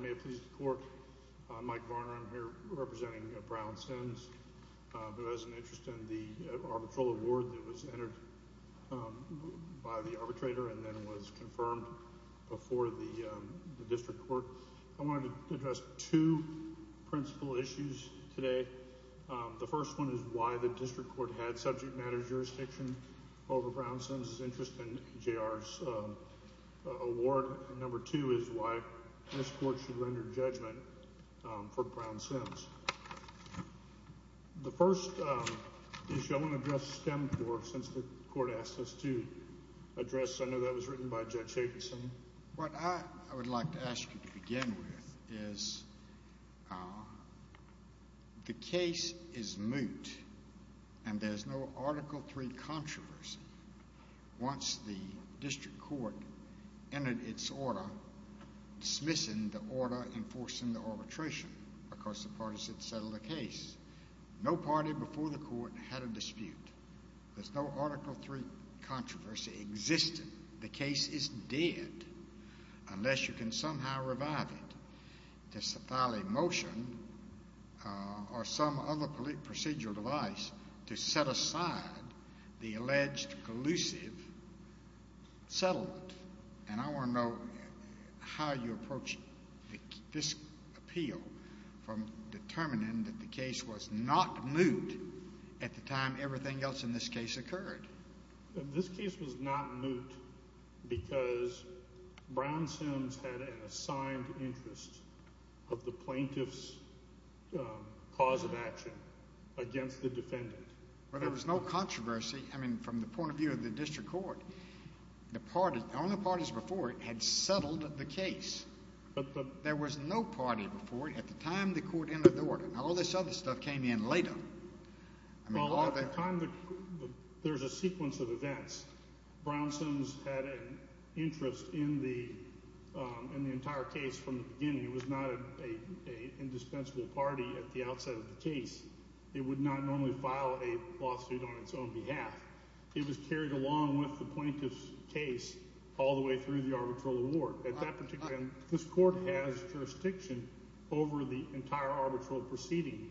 May it please the Court, I'm Mike Varner, I'm here representing Brown-Sims. There was an interest in the arbitral award that was entered by the arbitrator and then was confirmed before the District Court. I wanted to address two principal issues today. The first one is why the District Court had subject matter jurisdiction over Brown-Sims' interest in JR's award. Number two is why this Court should render judgment for Brown-Sims. The first issue I want to address STEM for since the Court asked us to address, I know that was written by Judge Jacobson. What I would like to ask you to begin with is the case is moot and there's no Article III controversy once the District Court entered its order dismissing the order enforcing the arbitration because the parties had settled the case. No party before the Court had a dispute. There's no Article III controversy existing. The case is dead unless you can somehow revive it to file a motion or some other procedural device to set aside the alleged collusive settlement. I want to know how you approach this appeal from determining that the case was not moot at the time everything else in this case occurred. This case was not moot because Brown-Sims had an assigned interest of the plaintiff's cause of action against the defendant. There was no controversy from the point of view of the District Court. The only parties before it had settled the case. There was no party before it at the time the Court entered the order. All this other stuff came in later. There's a sequence of events. Brown-Sims had an interest in the entire case from the beginning. It was not an indispensable party at the outset of the case. It would not normally file a lawsuit on its own behalf. It was carried along with the plaintiff's case all the way through the arbitral award. At that particular time, this Court has jurisdiction over the entire arbitral proceeding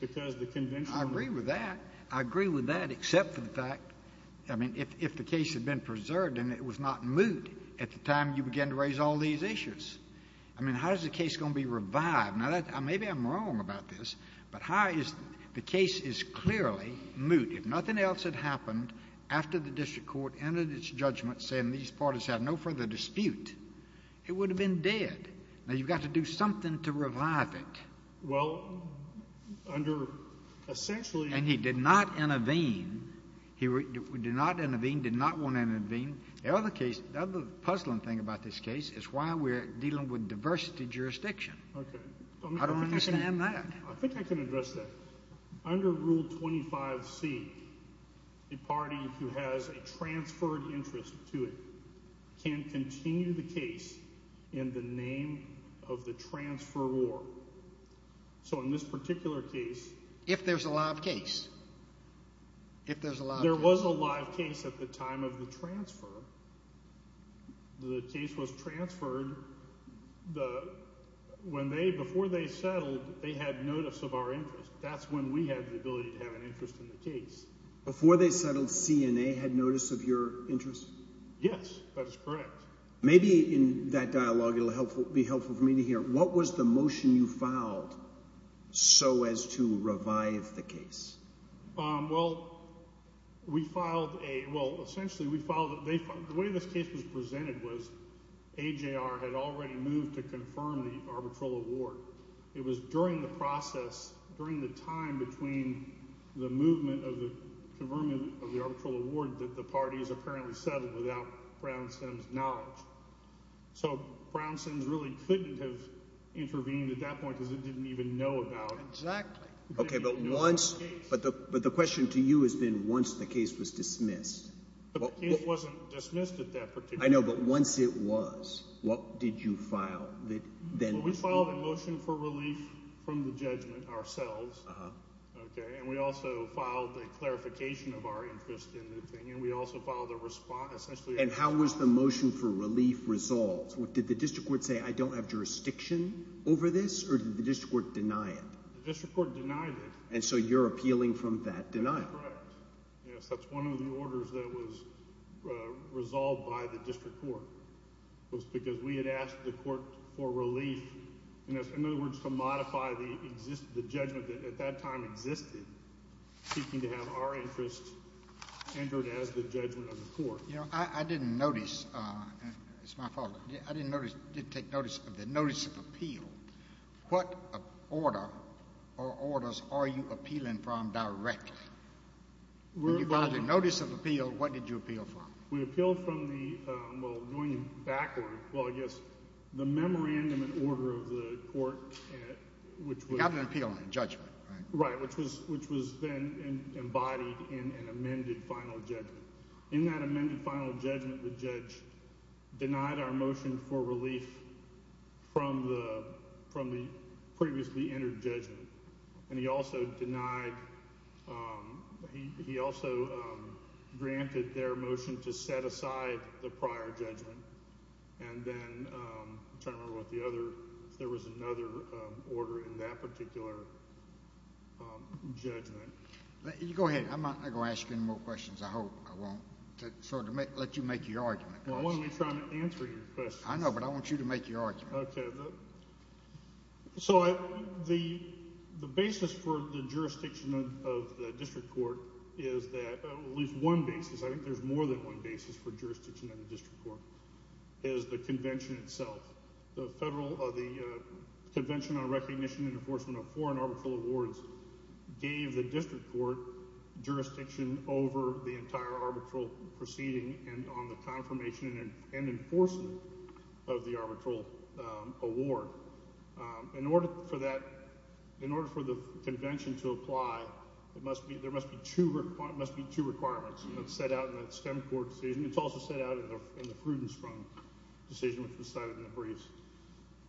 because the convention was— I agree with that. I agree with that except for the fact, I mean, if the case had been preserved and it was not moot at the time you began to raise all these issues. I mean, how is the case going to be revived? Now, maybe I'm wrong about this, but how is—the case is clearly moot. If nothing else had happened after the District Court entered its judgment saying these parties have no further dispute, it would have been dead. Now, you've got to do something to revive it. Well, under—essentially— And he did not intervene. He did not intervene, did not want to intervene. The other case—the other puzzling thing about this case is why we're dealing with diversity jurisdiction. Okay. I don't understand that. I think I can address that. Under Rule 25c, a party who has a transferred interest to it can continue the case in the name of the transferor. So in this particular case— If there's a live case. If there's a live case. transferor, the case was transferred when they—before they settled, they had notice of our interest. That's when we had the ability to have an interest in the case. Before they settled, CNA had notice of your interest? Yes, that is correct. Maybe in that dialogue it will be helpful for me to hear. What was the motion you filed so as to revive the case? Well, we filed a—well, essentially we filed—the way this case was presented was AJR had already moved to confirm the arbitral award. It was during the process, during the time between the movement of the—confirming of the arbitral award that the parties apparently settled without Brown Sims' knowledge. So Brown Sims really couldn't have intervened at that point because it didn't even know about it. Exactly. Okay, but once—but the question to you has been once the case was dismissed. The case wasn't dismissed at that particular point. I know, but once it was, what did you file? Well, we filed a motion for relief from the judgment ourselves. Okay, and we also filed a clarification of our interest in the thing, and we also filed a response, essentially— And how was the motion for relief resolved? Did the district court say, I don't have jurisdiction over this, or did the district court deny it? The district court denied it. And so you're appealing from that denial. That's correct. Yes, that's one of the orders that was resolved by the district court was because we had asked the court for relief. In other words, to modify the judgment that at that time existed, seeking to have our interest entered as the judgment of the court. You know, I didn't notice—it's my fault. I didn't take notice of the notice of appeal. What order or orders are you appealing from directly? The notice of appeal, what did you appeal from? We appealed from the—well, going backward, well, I guess the memorandum and order of the court, which was— You got an appeal on the judgment, right? Right, which was then embodied in an amended final judgment. In that amended final judgment, the judge denied our motion for relief from the previously entered judgment. And he also denied—he also granted their motion to set aside the prior judgment. And then I'm trying to remember what the other—if there was another order in that particular judgment. Go ahead. I'm not going to ask you any more questions, I hope. I won't sort of let you make your argument. I want to be trying to answer your question. I know, but I want you to make your argument. Okay. So the basis for the jurisdiction of the district court is that—at least one basis. I think there's more than one basis for jurisdiction in the district court, is the convention itself. The federal—the Convention on Recognition and Enforcement of Foreign Arbitral Awards gave the district court jurisdiction over the entire arbitral proceeding and on the confirmation and enforcement of the arbitral award. In order for that—in order for the convention to apply, there must be two requirements. It's set out in the STEM court decision. It's also set out in the Frudenstrom decision, which was cited in the briefs.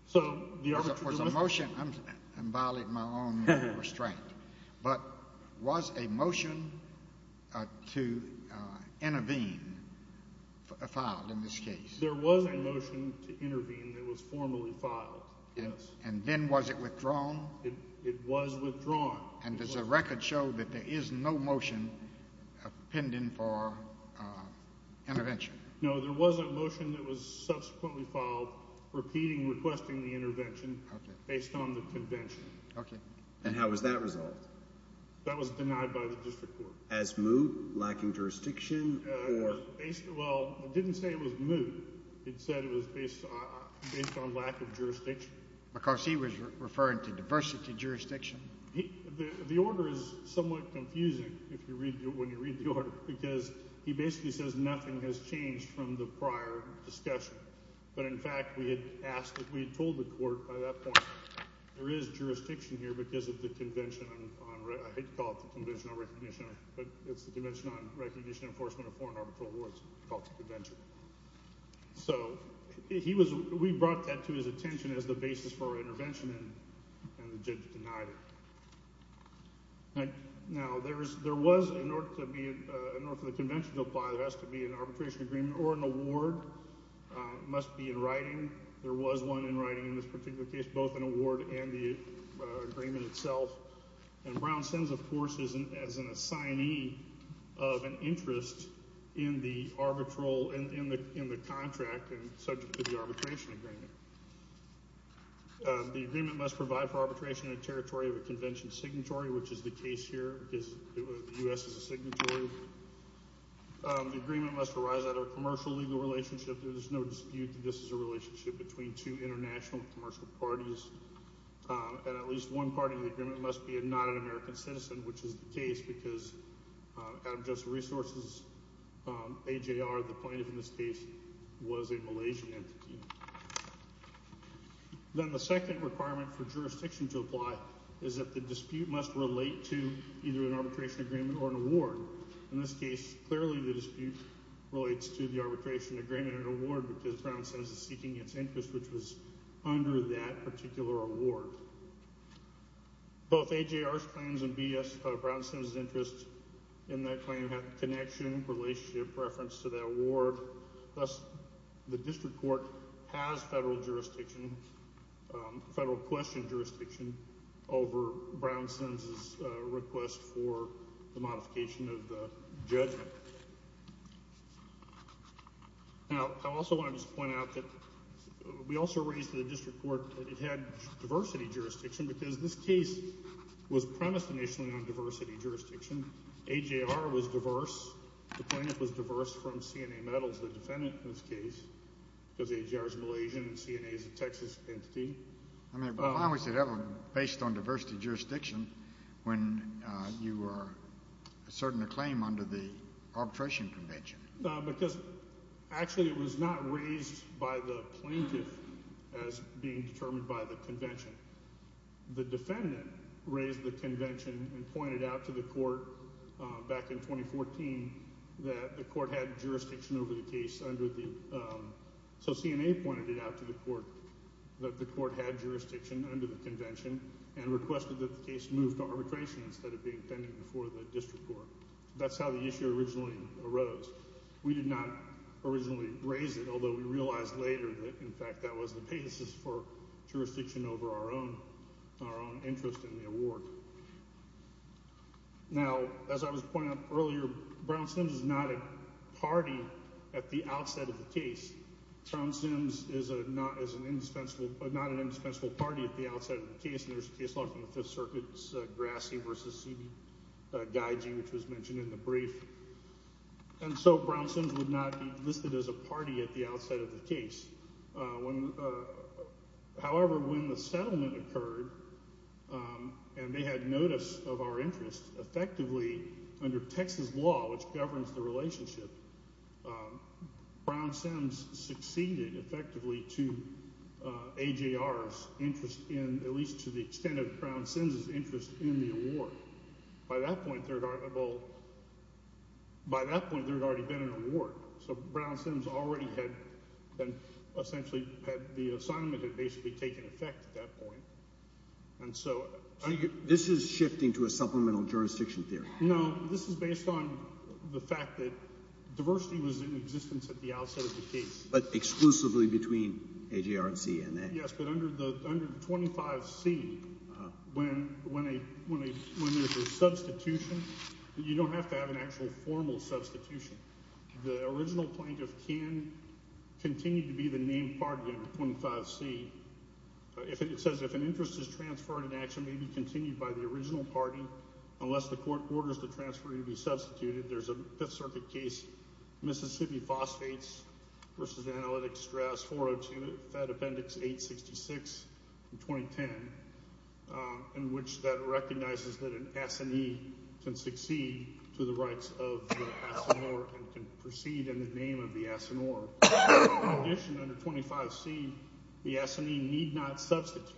So the arbitral— There was a motion—I'm violating my own restraint. But was a motion to intervene filed in this case? There was a motion to intervene that was formally filed, yes. And then was it withdrawn? It was withdrawn. And does the record show that there is no motion pending for intervention? No, there was a motion that was subsequently filed, repeating requesting the intervention, based on the convention. Okay. And how was that resolved? That was denied by the district court. As moot, lacking jurisdiction, or— Well, it didn't say it was moot. It said it was based on lack of jurisdiction. Because he was referring to diversity jurisdiction. The order is somewhat confusing when you read the order, because he basically says nothing has changed from the prior discussion. But, in fact, we had asked—we had told the court by that point, there is jurisdiction here because of the convention on— I hate to call it the convention on recognition, but it's the convention on recognition and enforcement of foreign arbitral awards. It's called the convention. So he was—we brought that to his attention as the basis for our intervention, and the judge denied it. Now, there was, in order for the convention to apply, there has to be an arbitration agreement or an award. It must be in writing. There was one in writing in this particular case, both an award and the agreement itself. And Brown sends, of course, as an assignee of an interest in the arbitral—in the contract and subject to the arbitration agreement. The agreement must provide for arbitration in a territory of a convention signatory, which is the case here. The U.S. is a signatory. The agreement must arise out of a commercial legal relationship. There is no dispute that this is a relationship between two international commercial parties. And at least one part of the agreement must be a non-American citizen, which is the case, because out of just resources, AJR, the plaintiff in this case, was a Malaysian entity. Then the second requirement for jurisdiction to apply is that the dispute must relate to either an arbitration agreement or an award. In this case, clearly the dispute relates to the arbitration agreement and award because Brown says it's seeking its interest, which was under that particular award. Both AJR's claims and B.S. Brownson's interest in that claim have connection, relationship, reference to that award. Thus, the district court has federal jurisdiction, federal question jurisdiction, over Brownson's request for the modification of the judgment. Now, I also want to just point out that we also raised to the district court that it had diversity jurisdiction because this case was premised initially on diversity jurisdiction. AJR was diverse. The plaintiff was diverse from CNA Metals, the defendant in this case, because AJR is Malaysian and CNA is a Texas entity. Why was it ever based on diversity jurisdiction when you were asserting a claim under the arbitration convention? Because actually it was not raised by the plaintiff as being determined by the convention. The defendant raised the convention and pointed out to the court back in 2014 that the court had jurisdiction over the case under the— so CNA pointed it out to the court that the court had jurisdiction under the convention and requested that the case move to arbitration instead of being pending before the district court. That's how the issue originally arose. We did not originally raise it, although we realized later that, in fact, that was the basis for jurisdiction over our own interest in the award. Now, as I was pointing out earlier, Brown-Sims is not a party at the outset of the case. Brown-Sims is not an indispensable party at the outset of the case. There's a case law from the Fifth Circuit, Grassi v. Guygee, which was mentioned in the brief. And so Brown-Sims would not be listed as a party at the outset of the case. However, when the settlement occurred and they had notice of our interest, effectively under Texas law, which governs the relationship, Brown-Sims succeeded effectively to AJR's interest in—at least to the extent of Brown-Sims' interest in the award. By that point, there had already been an award. So Brown-Sims already had been essentially—the assignment had basically taken effect at that point. And so— So this is shifting to a supplemental jurisdiction theory? No, this is based on the fact that diversity was in existence at the outset of the case. But exclusively between AJR and CNA? Yes, but under 25C, when there's a substitution, you don't have to have an actual formal substitution. The original plaintiff can continue to be the named party under 25C. It says if an interest is transferred in action, it may be continued by the original party unless the court orders the transfer to be substituted. There's a Fifth Circuit case, Mississippi Phosphates v. Analytic Strass 402, Fed Appendix 866, 2010, in which that recognizes that an assignee can succeed to the rights of the assigneur and can proceed in the name of the assigneur. In addition, under 25C, the assignee need not substitute.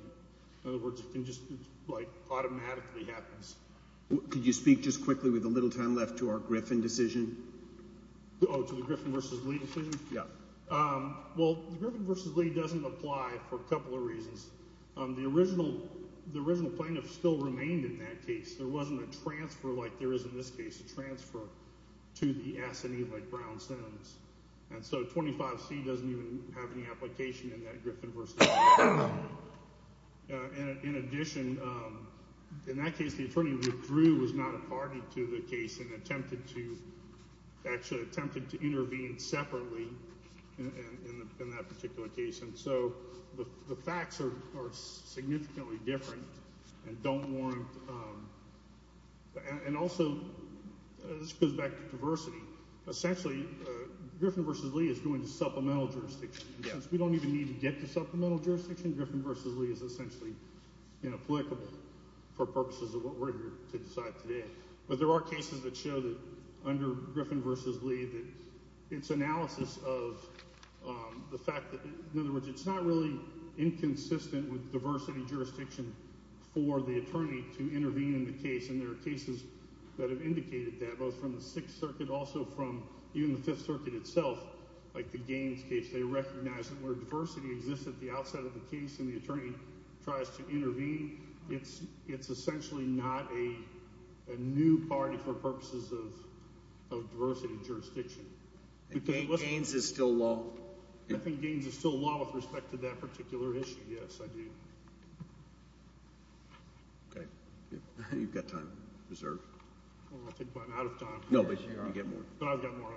In other words, it just like automatically happens. Could you speak just quickly, with a little time left, to our Griffin decision? Oh, to the Griffin v. Lee decision? Yeah. Well, the Griffin v. Lee doesn't apply for a couple of reasons. The original plaintiff still remained in that case. There wasn't a transfer like there is in this case, a transfer to the assignee like Brown sends. And so 25C doesn't even have any application in that Griffin v. Lee. In addition, in that case, the attorney withdrew, was not a party to the case, and attempted to intervene separately in that particular case. And so the facts are significantly different and don't warrant – and also this goes back to diversity. So essentially Griffin v. Lee is going to supplemental jurisdiction. Since we don't even need to get to supplemental jurisdiction, Griffin v. Lee is essentially inapplicable for purposes of what we're here to decide today. But there are cases that show that under Griffin v. Lee that its analysis of the fact that – in other words, it's not really inconsistent with diversity jurisdiction for the attorney to intervene in the case. And there are cases that have indicated that, both from the Sixth Circuit, also from even the Fifth Circuit itself, like the Gaines case. They recognize that where diversity exists at the outside of the case and the attorney tries to intervene, it's essentially not a new party for purposes of diversity jurisdiction. And Gaines is still law? I think Gaines is still law with respect to that particular issue, yes, I do. Okay. You've got time reserved. I think I'm out of time. No, but you've got more. But I've got more.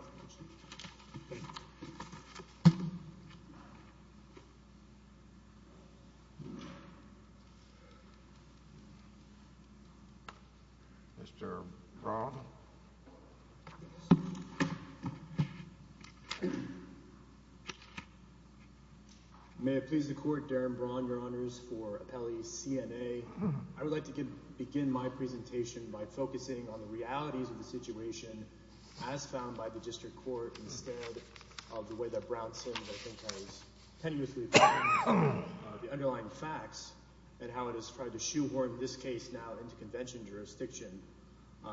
Mr. Braun? May it please the Court, Darren Braun, Your Honors, for appellee CNA. I would like to begin my presentation by focusing on the realities of the situation as found by the district court instead of the way that Brown said that I think I was tenuously following the underlying facts and how it has tried to shoehorn this case now into convention jurisdiction.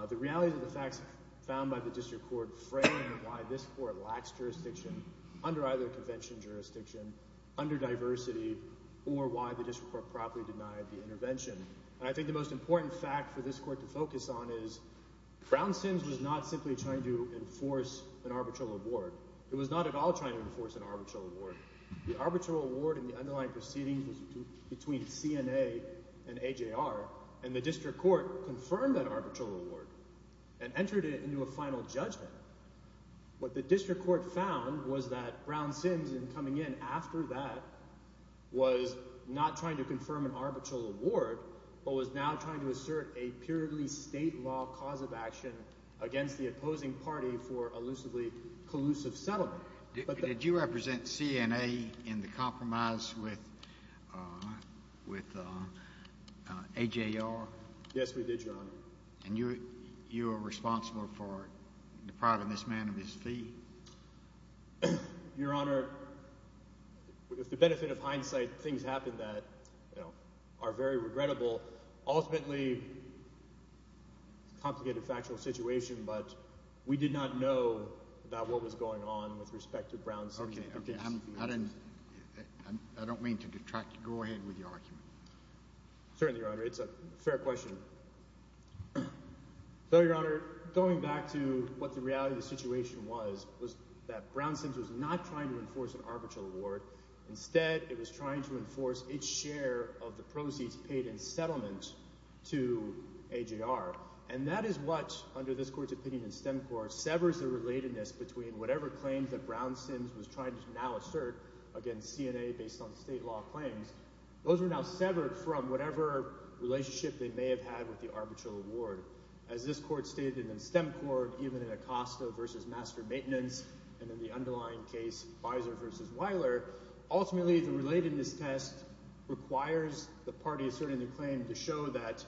The realities of the facts found by the district court frame why this court lacks jurisdiction under either convention jurisdiction, under diversity, or why the district court properly denied the intervention. And I think the most important fact for this court to focus on is Brown Sims was not simply trying to enforce an arbitral award. It was not at all trying to enforce an arbitral award. The arbitral award in the underlying proceedings was between CNA and AJR, and the district court confirmed that arbitral award and entered it into a final judgment. What the district court found was that Brown Sims, in coming in after that, was not trying to confirm an arbitral award but was now trying to assert a purely state law cause of action against the opposing party for a lucidly collusive settlement. Did you represent CNA in the compromise with AJR? Yes, we did, Your Honor. And you were responsible for depriving this man of his fee? Your Honor, with the benefit of hindsight, things happen that are very regrettable. Ultimately, it's a complicated factual situation, but we did not know about what was going on with respect to Brown Sims. I don't mean to detract. Go ahead with your argument. Certainly, Your Honor. It's a fair question. So, Your Honor, going back to what the reality of the situation was, was that Brown Sims was not trying to enforce an arbitral award. Instead, it was trying to enforce its share of the proceeds paid in settlement to AJR. And that is what, under this court's opinion in STEMCOR, severs the relatedness between whatever claims that Brown Sims was trying to now assert against CNA based on state law claims. Those are now severed from whatever relationship they may have had with the arbitral award. As this court stated in STEMCOR, even in Acosta v. Master Maintenance, and in the underlying case, Beiser v. Weiler, ultimately the relatedness test requires the party asserting the claim to show that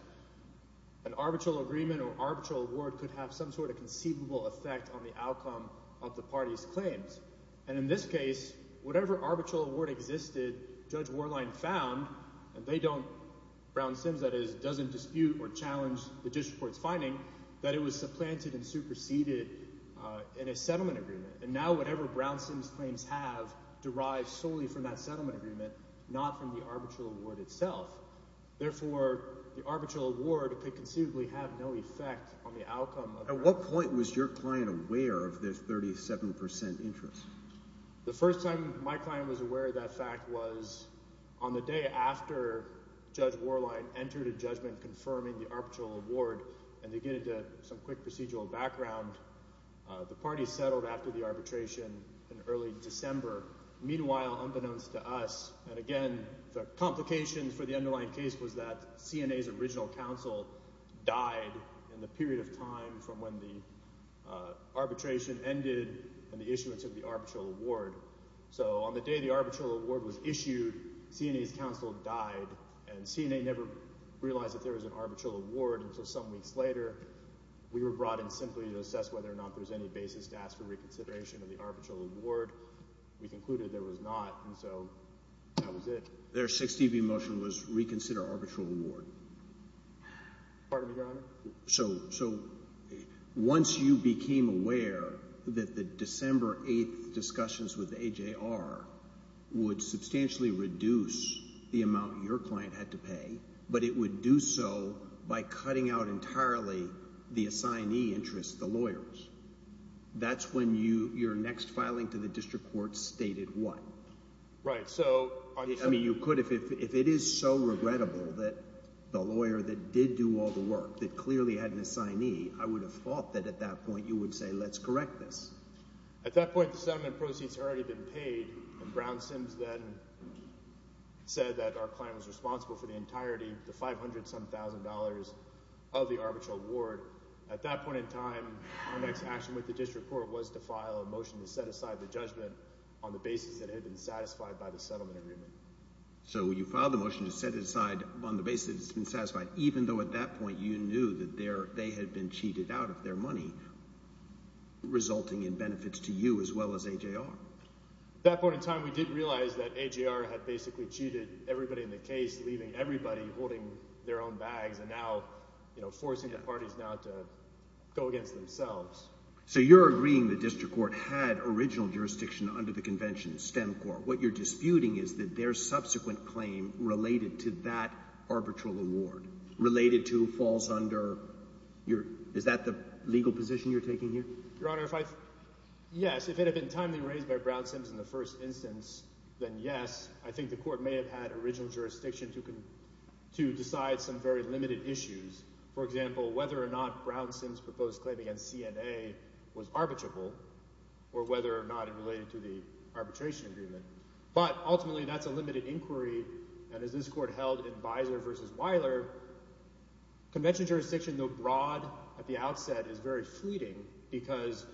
an arbitral agreement or arbitral award could have some sort of conceivable effect on the outcome of the party's claims. And in this case, whatever arbitral award existed, Judge Warline found, and they don't – Brown Sims, that is, doesn't dispute or challenge the judge's court's finding that it was supplanted and superseded in a settlement agreement. And now whatever Brown Sims claims have derive solely from that settlement agreement, not from the arbitral award itself. Therefore, the arbitral award could conceivably have no effect on the outcome of the… At what point was your client aware of this 37% interest? The first time my client was aware of that fact was on the day after Judge Warline entered a judgment confirming the arbitral award, and to get into some quick procedural background, the party settled after the arbitration in early December. Meanwhile, unbeknownst to us – and again, the complications for the underlying case was that CNA's original counsel died in the period of time from when the arbitration ended and the issuance of the arbitral award. So on the day the arbitral award was issued, CNA's counsel died, and CNA never realized that there was an arbitral award until some weeks later. We were brought in simply to assess whether or not there was any basis to ask for reconsideration of the arbitral award. We concluded there was not, and so that was it. Their 6TV motion was reconsider arbitral award. Pardon me, Your Honor? So once you became aware that the December 8th discussions with AJR would substantially reduce the amount your client had to pay, but it would do so by cutting out entirely the assignee interest, the lawyers, that's when your next filing to the district court stated what? Right. I mean you could – if it is so regrettable that the lawyer that did do all the work, that clearly had an assignee, I would have thought that at that point you would say let's correct this. At that point, the settlement proceeds had already been paid, and Brown Sims then said that our client was responsible for the entirety of the $500-some-thousand of the arbitral award. At that point in time, our next action with the district court was to file a motion to set aside the judgment on the basis that it had been satisfied by the settlement agreement. So you filed the motion to set it aside on the basis that it's been satisfied, even though at that point you knew that they had been cheated out of their money, resulting in benefits to you as well as AJR. At that point in time, we did realize that AJR had basically cheated everybody in the case, leaving everybody holding their own bags and now forcing the parties now to go against themselves. So you're agreeing the district court had original jurisdiction under the convention, STEMCORP. What you're disputing is that their subsequent claim related to that arbitral award, related to falls under – is that the legal position you're taking here? Your Honor, if I – yes, if it had been timely raised by Brown Sims in the first instance, then yes, I think the court may have had original jurisdiction to decide some very limited issues. For example, whether or not Brown Sims' proposed claim against CNA was arbitrable or whether or not it related to the arbitration agreement. But ultimately that's a limited inquiry, and as this court held in Beiser v. Weiler, convention jurisdiction, though broad at the outset, is very fleeting because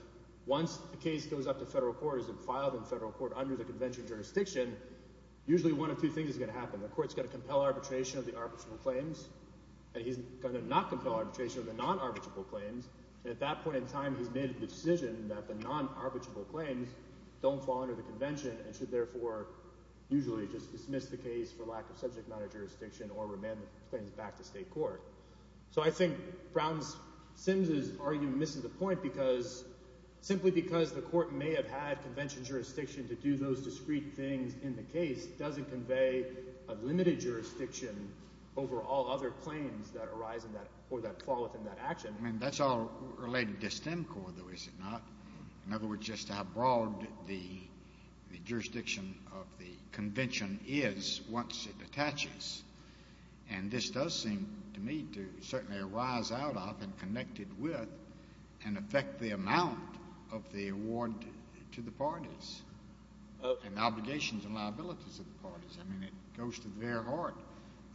once a case goes up to federal court and is filed in federal court under the convention jurisdiction, usually one of two things is going to happen. The court is going to compel arbitration of the arbitrable claims, and he's going to not compel arbitration of the non-arbitrable claims, and at that point in time he's made the decision that the non-arbitrable claims don't fall under the convention and should therefore usually just dismiss the case for lack of subject matter jurisdiction or remand the claims back to state court. So I think Brown Sims' argument misses the point because simply because the court may have had convention jurisdiction to do those discrete things in the case doesn't convey a limited jurisdiction over all other claims that arise in that – or that fall within that action. But, I mean, that's all related to STEM Corps, though, is it not? In other words, just how broad the jurisdiction of the convention is once it attaches. And this does seem to me to certainly arise out of and connected with and affect the amount of the award to the parties and the obligations and liabilities of the parties. I mean, it goes to the very heart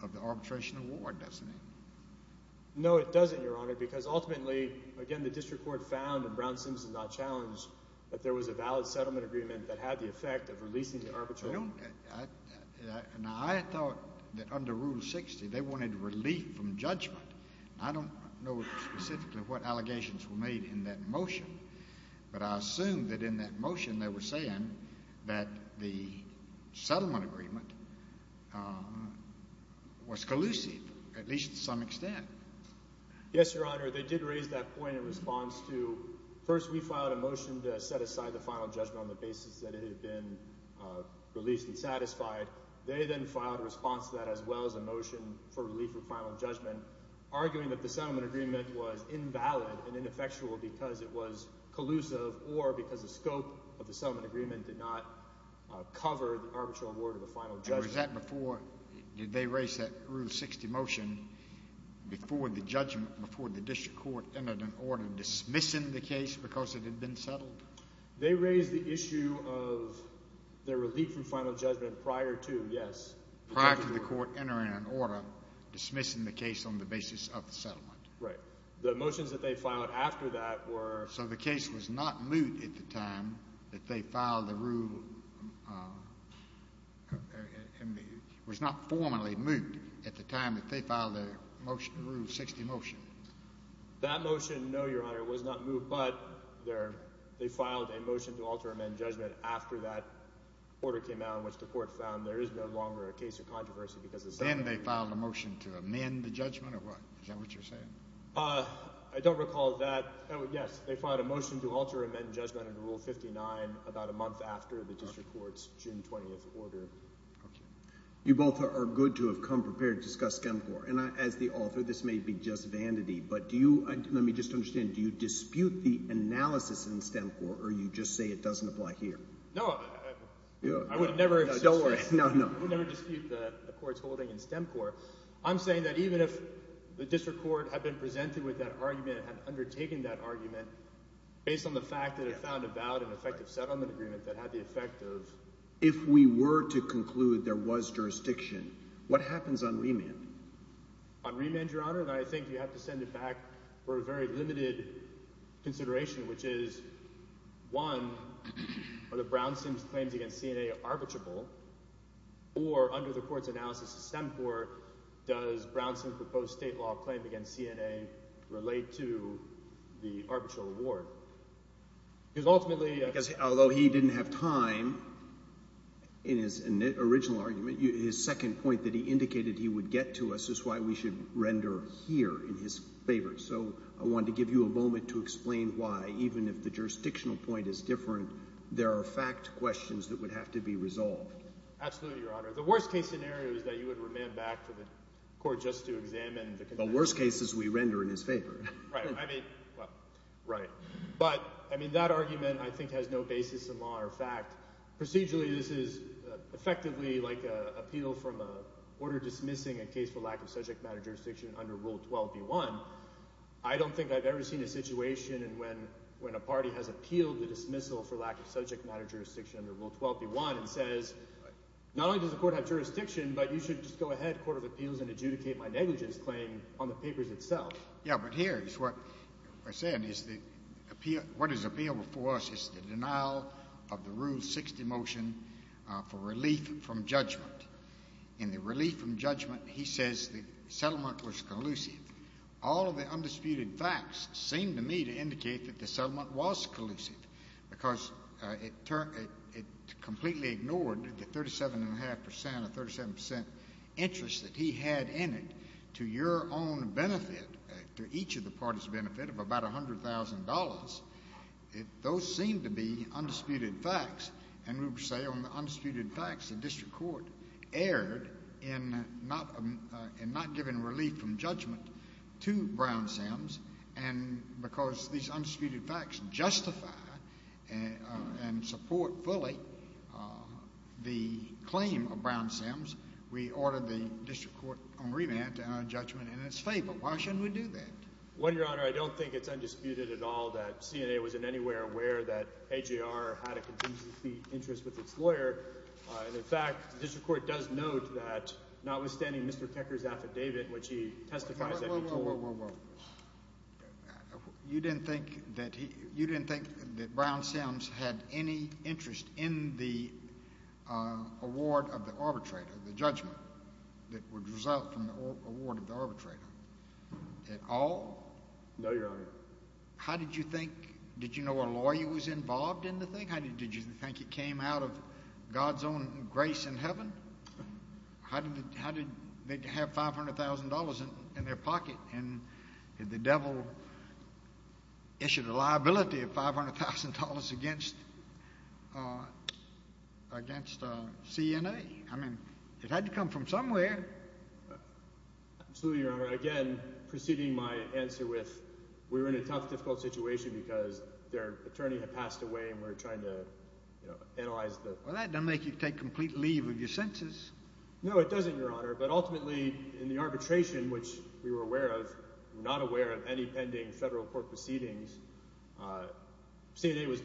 of the arbitration award, doesn't it? No, it doesn't, Your Honor, because ultimately, again, the district court found and Brown Sims did not challenge that there was a valid settlement agreement that had the effect of releasing the arbitration. I don't – now, I thought that under Rule 60 they wanted relief from judgment. I don't know specifically what allegations were made in that motion, but I assume that in that motion they were saying that the settlement agreement was collusive, at least to some extent. Yes, Your Honor. They did raise that point in response to – first, we filed a motion to set aside the final judgment on the basis that it had been released and satisfied. They then filed a response to that as well as a motion for relief from final judgment, arguing that the settlement agreement was invalid and ineffectual because it was collusive or because the scope of the settlement agreement did not cover the arbitration award or the final judgment. Was that before – did they raise that Rule 60 motion before the judgment, before the district court entered an order dismissing the case because it had been settled? They raised the issue of their relief from final judgment prior to – yes. Prior to the court entering an order dismissing the case on the basis of the settlement. Right. The motions that they filed after that were – was not formally moved at the time that they filed their motion, Rule 60 motion. That motion, no, Your Honor, was not moved, but they filed a motion to alter or amend judgment after that order came out in which the court found there is no longer a case of controversy because the settlement agreement – Then they filed a motion to amend the judgment or what? Is that what you're saying? I don't recall that – oh, yes. They filed a motion to alter or amend judgment under Rule 59 about a month after the district court's June 20th order. Okay. You both are good to have come prepared to discuss STEM Corps. And as the author, this may be just vanity, but do you – let me just understand. Do you dispute the analysis in STEM Corps or you just say it doesn't apply here? No, I would never – Don't worry. No, no. I would never dispute the court's holding in STEM Corps. I'm saying that even if the district court had been presented with that argument and had undertaken that argument based on the fact that it found a valid and effective settlement agreement that had the effect of – If we were to conclude there was jurisdiction, what happens on remand? On remand, Your Honor, I think you have to send it back for a very limited consideration, which is one, are the Brownsons' claims against CNA arbitrable? Or under the court's analysis of STEM Corps, does Brownson's proposed state law claim against CNA relate to the arbitral award? Because ultimately – Although he didn't have time in his original argument, his second point that he indicated he would get to us is why we should render here in his favor. So I wanted to give you a moment to explain why, even if the jurisdictional point is different, there are fact questions that would have to be resolved. Absolutely, Your Honor. The worst case scenario is that you would remand back to the court just to examine the – The worst case is we render in his favor. Right. I mean – well, right. But I mean that argument I think has no basis in law or fact. Procedurally, this is effectively like an appeal from a court or dismissing a case for lack of subject matter jurisdiction under Rule 12b-1. I don't think I've ever seen a situation when a party has appealed the dismissal for lack of subject matter jurisdiction under Rule 12b-1 and says, not only does the court have jurisdiction, but you should just go ahead, court of appeals, and adjudicate my negligence claim on the papers itself. Yeah, but here is what I said is the – what is appealed before us is the denial of the Rule 60 motion for relief from judgment. In the relief from judgment, he says the settlement was collusive. All of the undisputed facts seem to me to indicate that the settlement was collusive because it completely ignored the 37.5 percent or 37 percent interest that he had in it to your own benefit, to each of the parties' benefit of about $100,000. Those seem to be undisputed facts. And we would say on the undisputed facts the district court erred in not giving relief from judgment to Brown-Sims and because these undisputed facts justify and support fully the claim of Brown-Sims, we ordered the district court on remand to end our judgment in its favor. Why shouldn't we do that? Well, Your Honor, I don't think it's undisputed at all that CNA was in any way aware that HAR had a contingency interest with its lawyer. And, in fact, the district court does note that notwithstanding Mr. Tecker's affidavit, which he testifies that he told— Whoa, whoa, whoa. You didn't think that he—you didn't think that Brown-Sims had any interest in the award of the arbitrator, the judgment that would result from the award of the arbitrator at all? No, Your Honor. How did you think—did you know a lawyer was involved in the thing? Did you think it came out of God's own grace in heaven? How did they have $500,000 in their pocket? And did the devil issue the liability of $500,000 against CNA? I mean it had to come from somewhere. Absolutely, Your Honor. Again, proceeding my answer with we were in a tough, difficult situation because their attorney had passed away and we were trying to analyze the— Well, that doesn't make you take complete leave of your senses. No, it doesn't, Your Honor. But ultimately, in the arbitration, which we were aware of, not aware of any pending federal court proceedings, CNA was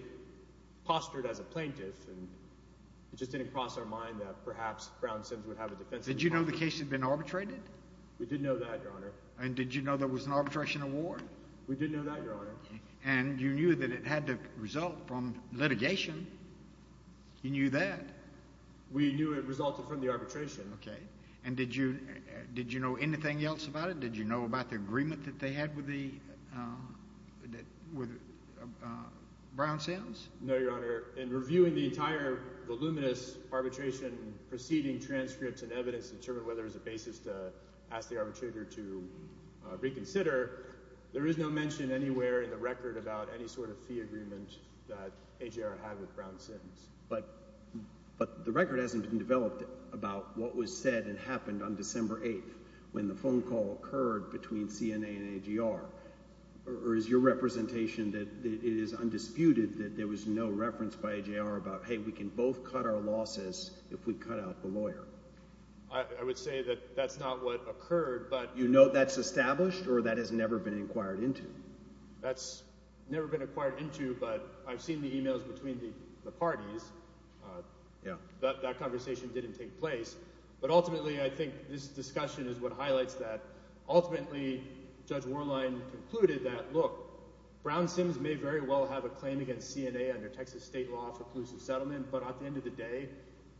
postured as a plaintiff and it just didn't cross our mind that perhaps Brown-Sims would have a defensive— Did you know the case had been arbitrated? We did know that, Your Honor. And did you know there was an arbitration award? We did know that, Your Honor. And you knew that it had to result from litigation? You knew that? We knew it resulted from the arbitration. Okay. And did you know anything else about it? Did you know about the agreement that they had with Brown-Sims? No, Your Honor. In reviewing the entire voluminous arbitration proceeding transcripts and evidence to determine whether there was a basis to ask the arbitrator to reconsider, there is no mention anywhere in the record about any sort of fee agreement that AJR had with Brown-Sims. But the record hasn't been developed about what was said and happened on December 8th when the phone call occurred between CNA and AJR. Or is your representation that it is undisputed that there was no reference by AJR about, hey, we can both cut our losses if we cut out the lawyer? I would say that that's not what occurred, but— That's never been inquired into, but I've seen the emails between the parties. That conversation didn't take place. But ultimately, I think this discussion is what highlights that. Ultimately, Judge Warline concluded that, look, Brown-Sims may very well have a claim against CNA under Texas state law for collusive settlement. But at the end of the day,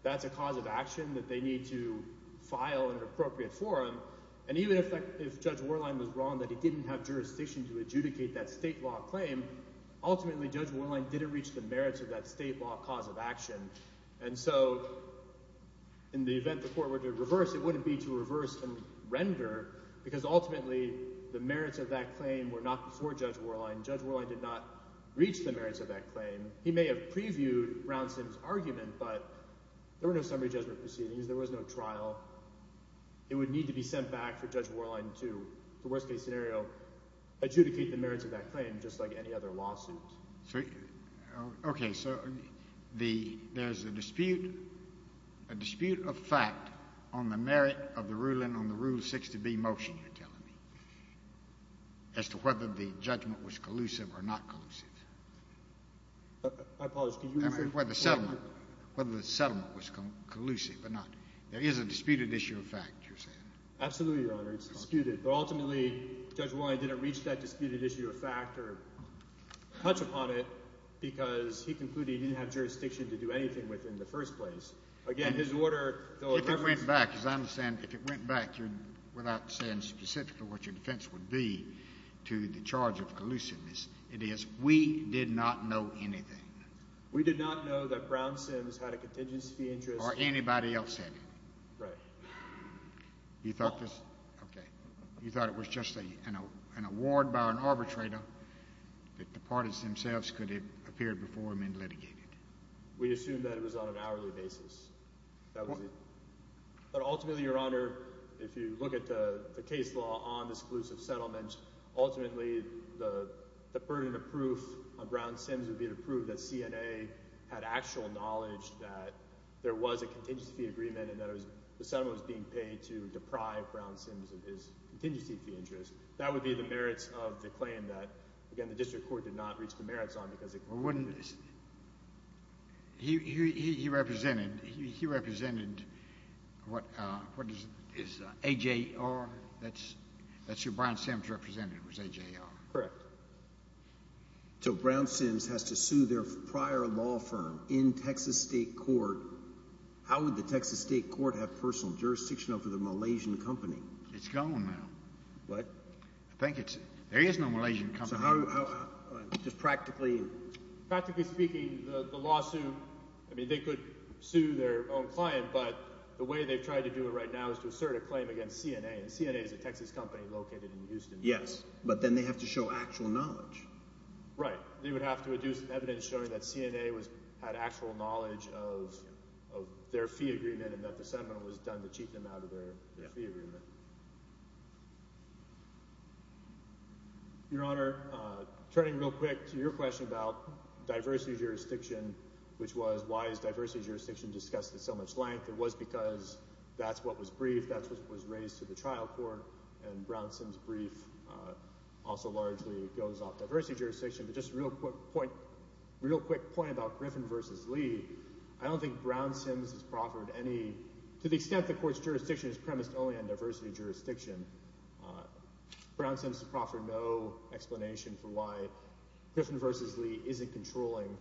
that's a cause of action that they need to file in an appropriate forum. And even if Judge Warline was wrong that he didn't have jurisdiction to adjudicate that state law claim, ultimately Judge Warline didn't reach the merits of that state law cause of action. And so in the event the court were to reverse, it wouldn't be to reverse and render because ultimately the merits of that claim were not before Judge Warline. Judge Warline did not reach the merits of that claim. He may have previewed Brown-Sims' argument, but there were no summary judgment proceedings. There was no trial. It would need to be sent back for Judge Warline to, in the worst-case scenario, adjudicate the merits of that claim just like any other lawsuit. Okay. So there's a dispute, a dispute of fact on the merit of the ruling on the Rule 6 to B motion you're telling me as to whether the judgment was collusive or not collusive. I apologize. Whether the settlement was collusive or not. There is a disputed issue of fact you're saying. Absolutely, Your Honor. It's disputed. But ultimately Judge Warline didn't reach that disputed issue of fact or touch upon it because he concluded he didn't have jurisdiction to do anything with it in the first place. Again, his order, though— If it went back, as I understand, if it went back without saying specifically what your defense would be to the charge of collusiveness, it is we did not know anything. We did not know that Brown Sims had a contingency fee interest— Or anybody else had it. Right. You thought this— Well— Okay. You thought it was just an award by an arbitrator that the parties themselves could have appeared before him and litigated. We assumed that it was on an hourly basis. That was it. But ultimately, Your Honor, if you look at the case law on this collusive settlement, ultimately the burden of proof on Brown Sims would be to prove that CNA had actual knowledge that there was a contingency fee agreement and that the settlement was being paid to deprive Brown Sims of his contingency fee interest. That would be the merits of the claim that, again, the district court did not reach the merits on because it— Well, wouldn't—He represented—He represented what is AJR? That's who Brown Sims represented was AJR. Correct. So Brown Sims has to sue their prior law firm in Texas state court. How would the Texas state court have personal jurisdiction over the Malaysian company? It's gone now. What? I think it's—There is no Malaysian company. Just practically— Practically speaking, the lawsuit—I mean they could sue their own client, but the way they've tried to do it right now is to assert a claim against CNA, and CNA is a Texas company located in Houston. Yes, but then they have to show actual knowledge. Right. They would have to do some evidence showing that CNA had actual knowledge of their fee agreement and that the settlement was done to cheat them out of their fee agreement. Your Honor, turning real quick to your question about diversity jurisdiction, which was why is diversity jurisdiction discussed at so much length. It was because that's what was briefed. That's what was raised to the trial court, and Brown Sims' brief also largely goes off diversity jurisdiction. But just a real quick point about Griffin v. Lee. I don't think Brown Sims has proffered any—to the extent the court's jurisdiction is premised only on diversity jurisdiction, Brown Sims has proffered no explanation for why Griffin v. Lee isn't controlling.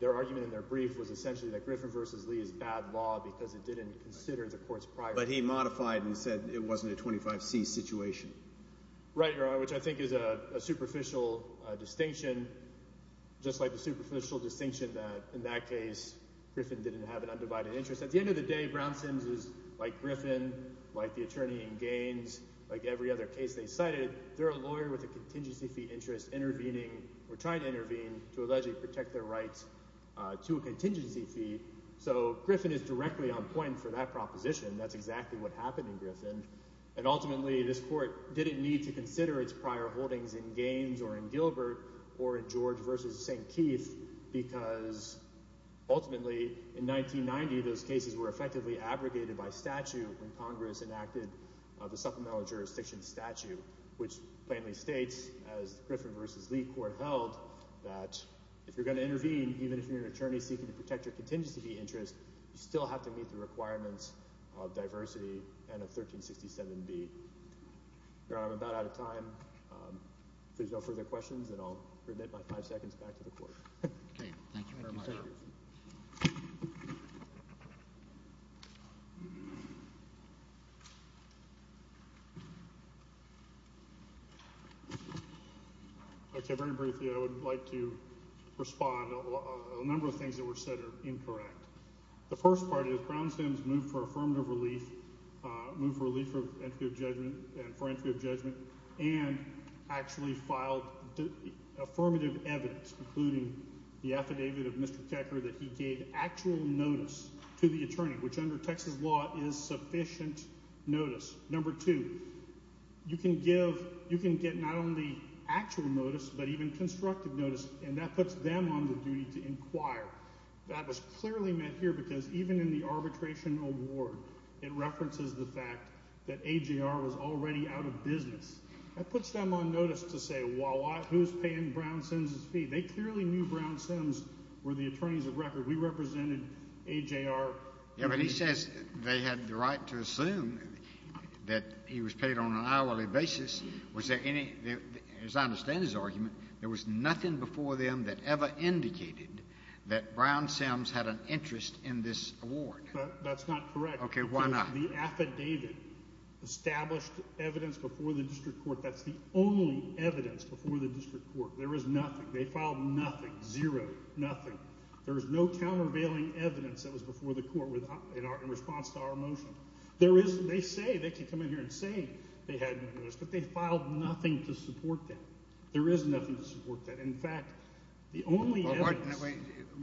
Their argument in their brief was essentially that Griffin v. Lee is bad law because it didn't consider the court's prior— But he modified and said it wasn't a 25C situation. Right, Your Honor, which I think is a superficial distinction, just like the superficial distinction that in that case Griffin didn't have an undivided interest. At the end of the day, Brown Sims is like Griffin, like the attorney in Gaines, like every other case they cited. They're a lawyer with a contingency fee interest intervening or trying to intervene to allegedly protect their rights to a contingency fee. So Griffin is directly on point for that proposition. That's exactly what happened in Griffin. And ultimately this court didn't need to consider its prior holdings in Gaines or in Gilbert or in George v. St. Keith because ultimately in 1990 those cases were effectively abrogated by statute when Congress enacted the supplemental jurisdiction statute, which plainly states, as Griffin v. Lee court held, that if you're going to intervene, even if you're an attorney seeking to protect your contingency fee interest, you still have to meet the requirements of diversity and of 1367B. Your Honor, I'm about out of time. If there's no further questions, then I'll remit my five seconds back to the court. Thank you very much. Very briefly, I would like to respond. A number of things that were said are incorrect. The first part is Brownsville's move for affirmative relief, move relief for entry of judgment and for entry of judgment and actually filed affirmative evidence, including the affidavit of Mr. And that puts them on the duty to inquire. That was clearly met here because even in the arbitration award, it references the fact that AJR was already out of business. That puts them on notice to say who's paying Brownsville's fee. They clearly knew Brownsville were the attorneys of record. We represented AJR. But he says they had the right to assume that he was paid on an hourly basis. As I understand his argument, there was nothing before them that ever indicated that Brownsville had an interest in this award. That's not correct. Okay, why not? The affidavit established evidence before the district court. That's the only evidence before the district court. There is nothing. They filed nothing, zero, nothing. There is no countervailing evidence that was before the court in response to our motion. There is, they say, they can come in here and say they had no notice, but they filed nothing to support that. There is nothing to support that. In fact, the only evidence— But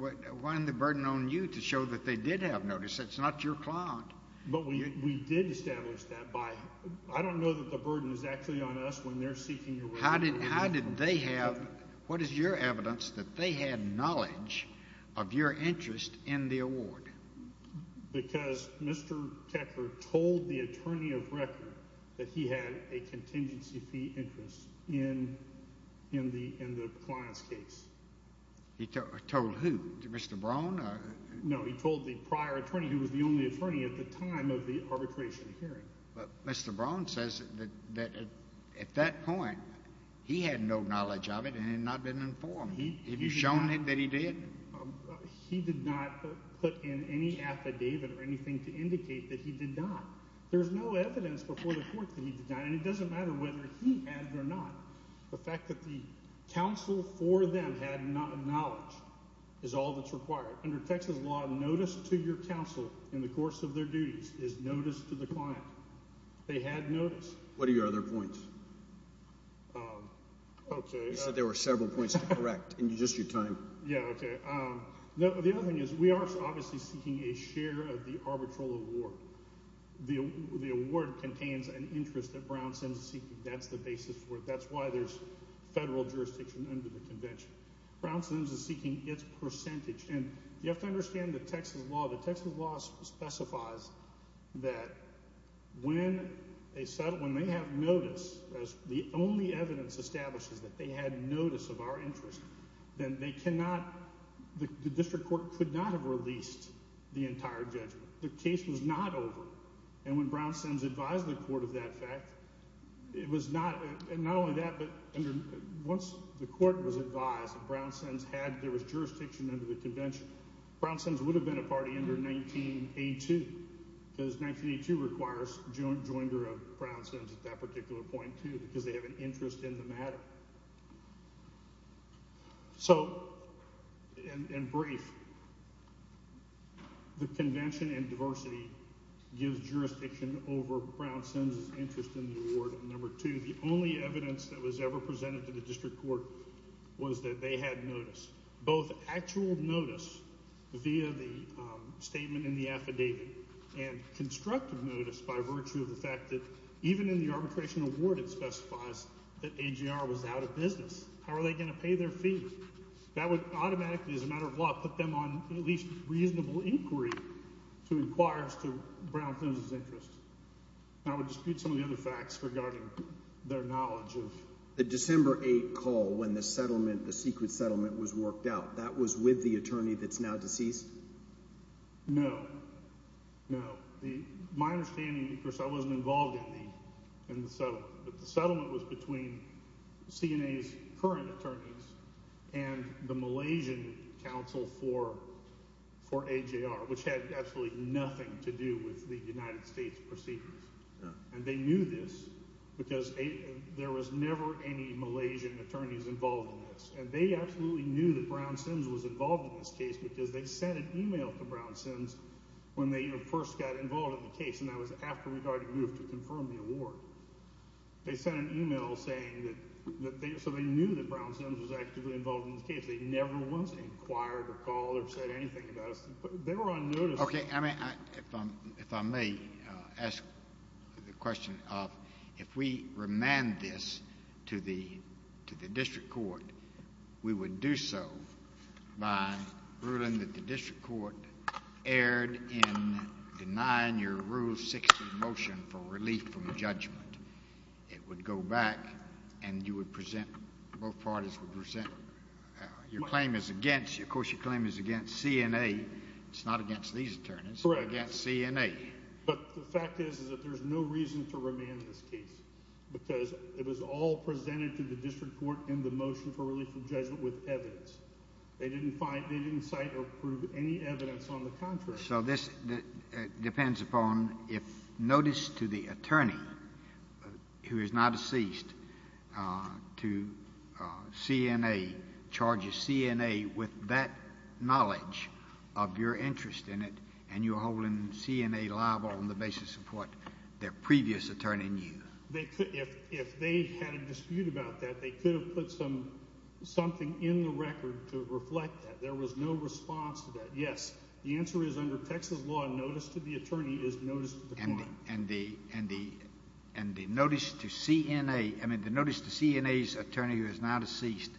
wait, why the burden on you to show that they did have notice? That's not your client. But we did establish that by—I don't know that the burden is actually on us when they're seeking— How did they have—what is your evidence that they had knowledge of your interest in the award? Because Mr. Tecker told the attorney of record that he had a contingency fee interest in the client's case. He told who? Mr. Brown? No, he told the prior attorney who was the only attorney at the time of the arbitration hearing. But Mr. Brown says that at that point he had no knowledge of it and had not been informed. Have you shown him that he did? He did not put in any affidavit or anything to indicate that he did not. There is no evidence before the court that he did not, and it doesn't matter whether he had or not. The fact that the counsel for them had knowledge is all that's required. Under Texas law, notice to your counsel in the course of their duties is notice to the client. They had notice. What are your other points? Okay. You said there were several points to correct in just your time. Yeah, okay. The other thing is we are obviously seeking a share of the arbitral award. The award contains an interest that Brownsons is seeking. That's why there's federal jurisdiction under the convention. Brownsons is seeking its percentage. And you have to understand the Texas law. The Texas law specifies that when they have notice, as the only evidence establishes that they had notice of our interest, then they cannot, the district court could not have released the entire judgment. The case was not over. And when Brownsons advised the court of that fact, it was not, and not only that, but once the court was advised that Brownsons had, there was jurisdiction under the convention, Brownsons would have been a party under 1982 because 1982 requires joinder of Brownsons at that particular point too because they have an interest in the matter. So, in brief, the convention and diversity gives jurisdiction over Brownsons' interest in the award. Number two, the only evidence that was ever presented to the district court was that they had notice, both actual notice via the statement in the affidavit and constructive notice by virtue of the fact that even in the arbitration award it specifies that AGR was out of business. How are they going to pay their fee? That would automatically, as a matter of law, put them on at least reasonable inquiry to inquire to Brownsons' interest. I would dispute some of the other facts regarding their knowledge of… The December 8 call when the settlement, the secret settlement was worked out, that was with the attorney that's now deceased? No, no. My understanding, of course, I wasn't involved in the settlement, but the settlement was between CNA's current attorneys and the Malaysian counsel for AJR, which had absolutely nothing to do with the United States proceedings. And they knew this because there was never any Malaysian attorneys involved in this, and they absolutely knew that Brownsons was involved in this case because they sent an email to Brownsons when they first got involved in the case, and that was after we'd already moved to confirm the award. They sent an email saying that they knew that Brownsons was actively involved in this case. They never once inquired or called or said anything about us. They were on notice. Okay. I mean, if I may ask the question of if we remand this to the district court, we would do so by ruling that the district court erred in denying your Rule 6 motion for relief from judgment. It would go back and you would present, both parties would present, your claim is against, of course, your claim is against CNA. It's not against these attorneys. Correct. It's against CNA. But the fact is that there's no reason to remand this case because it was all presented to the district court in the motion for relief from judgment with evidence. They didn't cite or prove any evidence on the contrary. So this depends upon if notice to the attorney who is now deceased to CNA charges CNA with that knowledge of your interest in it and you're holding CNA liable on the basis of what their previous attorney knew. If they had a dispute about that, they could have put something in the record to reflect that. There was no response to that. Yes. The answer is under Texas law, notice to the attorney is notice to the court. And the notice to CNA, I mean the notice to CNA's attorney who is now deceased,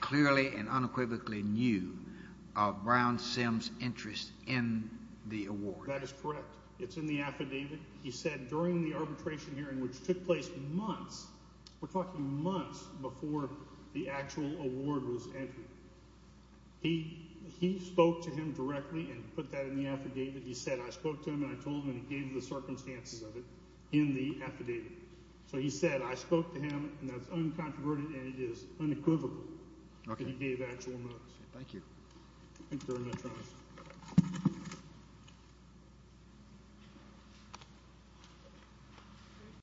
clearly and unequivocally knew of Brown Simms' interest in the award. That is correct. It's in the affidavit. He said during the arbitration hearing, which took place months, we're talking months before the actual award was entered, he spoke to him directly and put that in the affidavit. He said I spoke to him and I told him and he gave the circumstances of it in the affidavit. So he said I spoke to him and that's uncontroverted and it is unequivocal that he gave actual notice. Thank you. Thank you very much, Your Honor.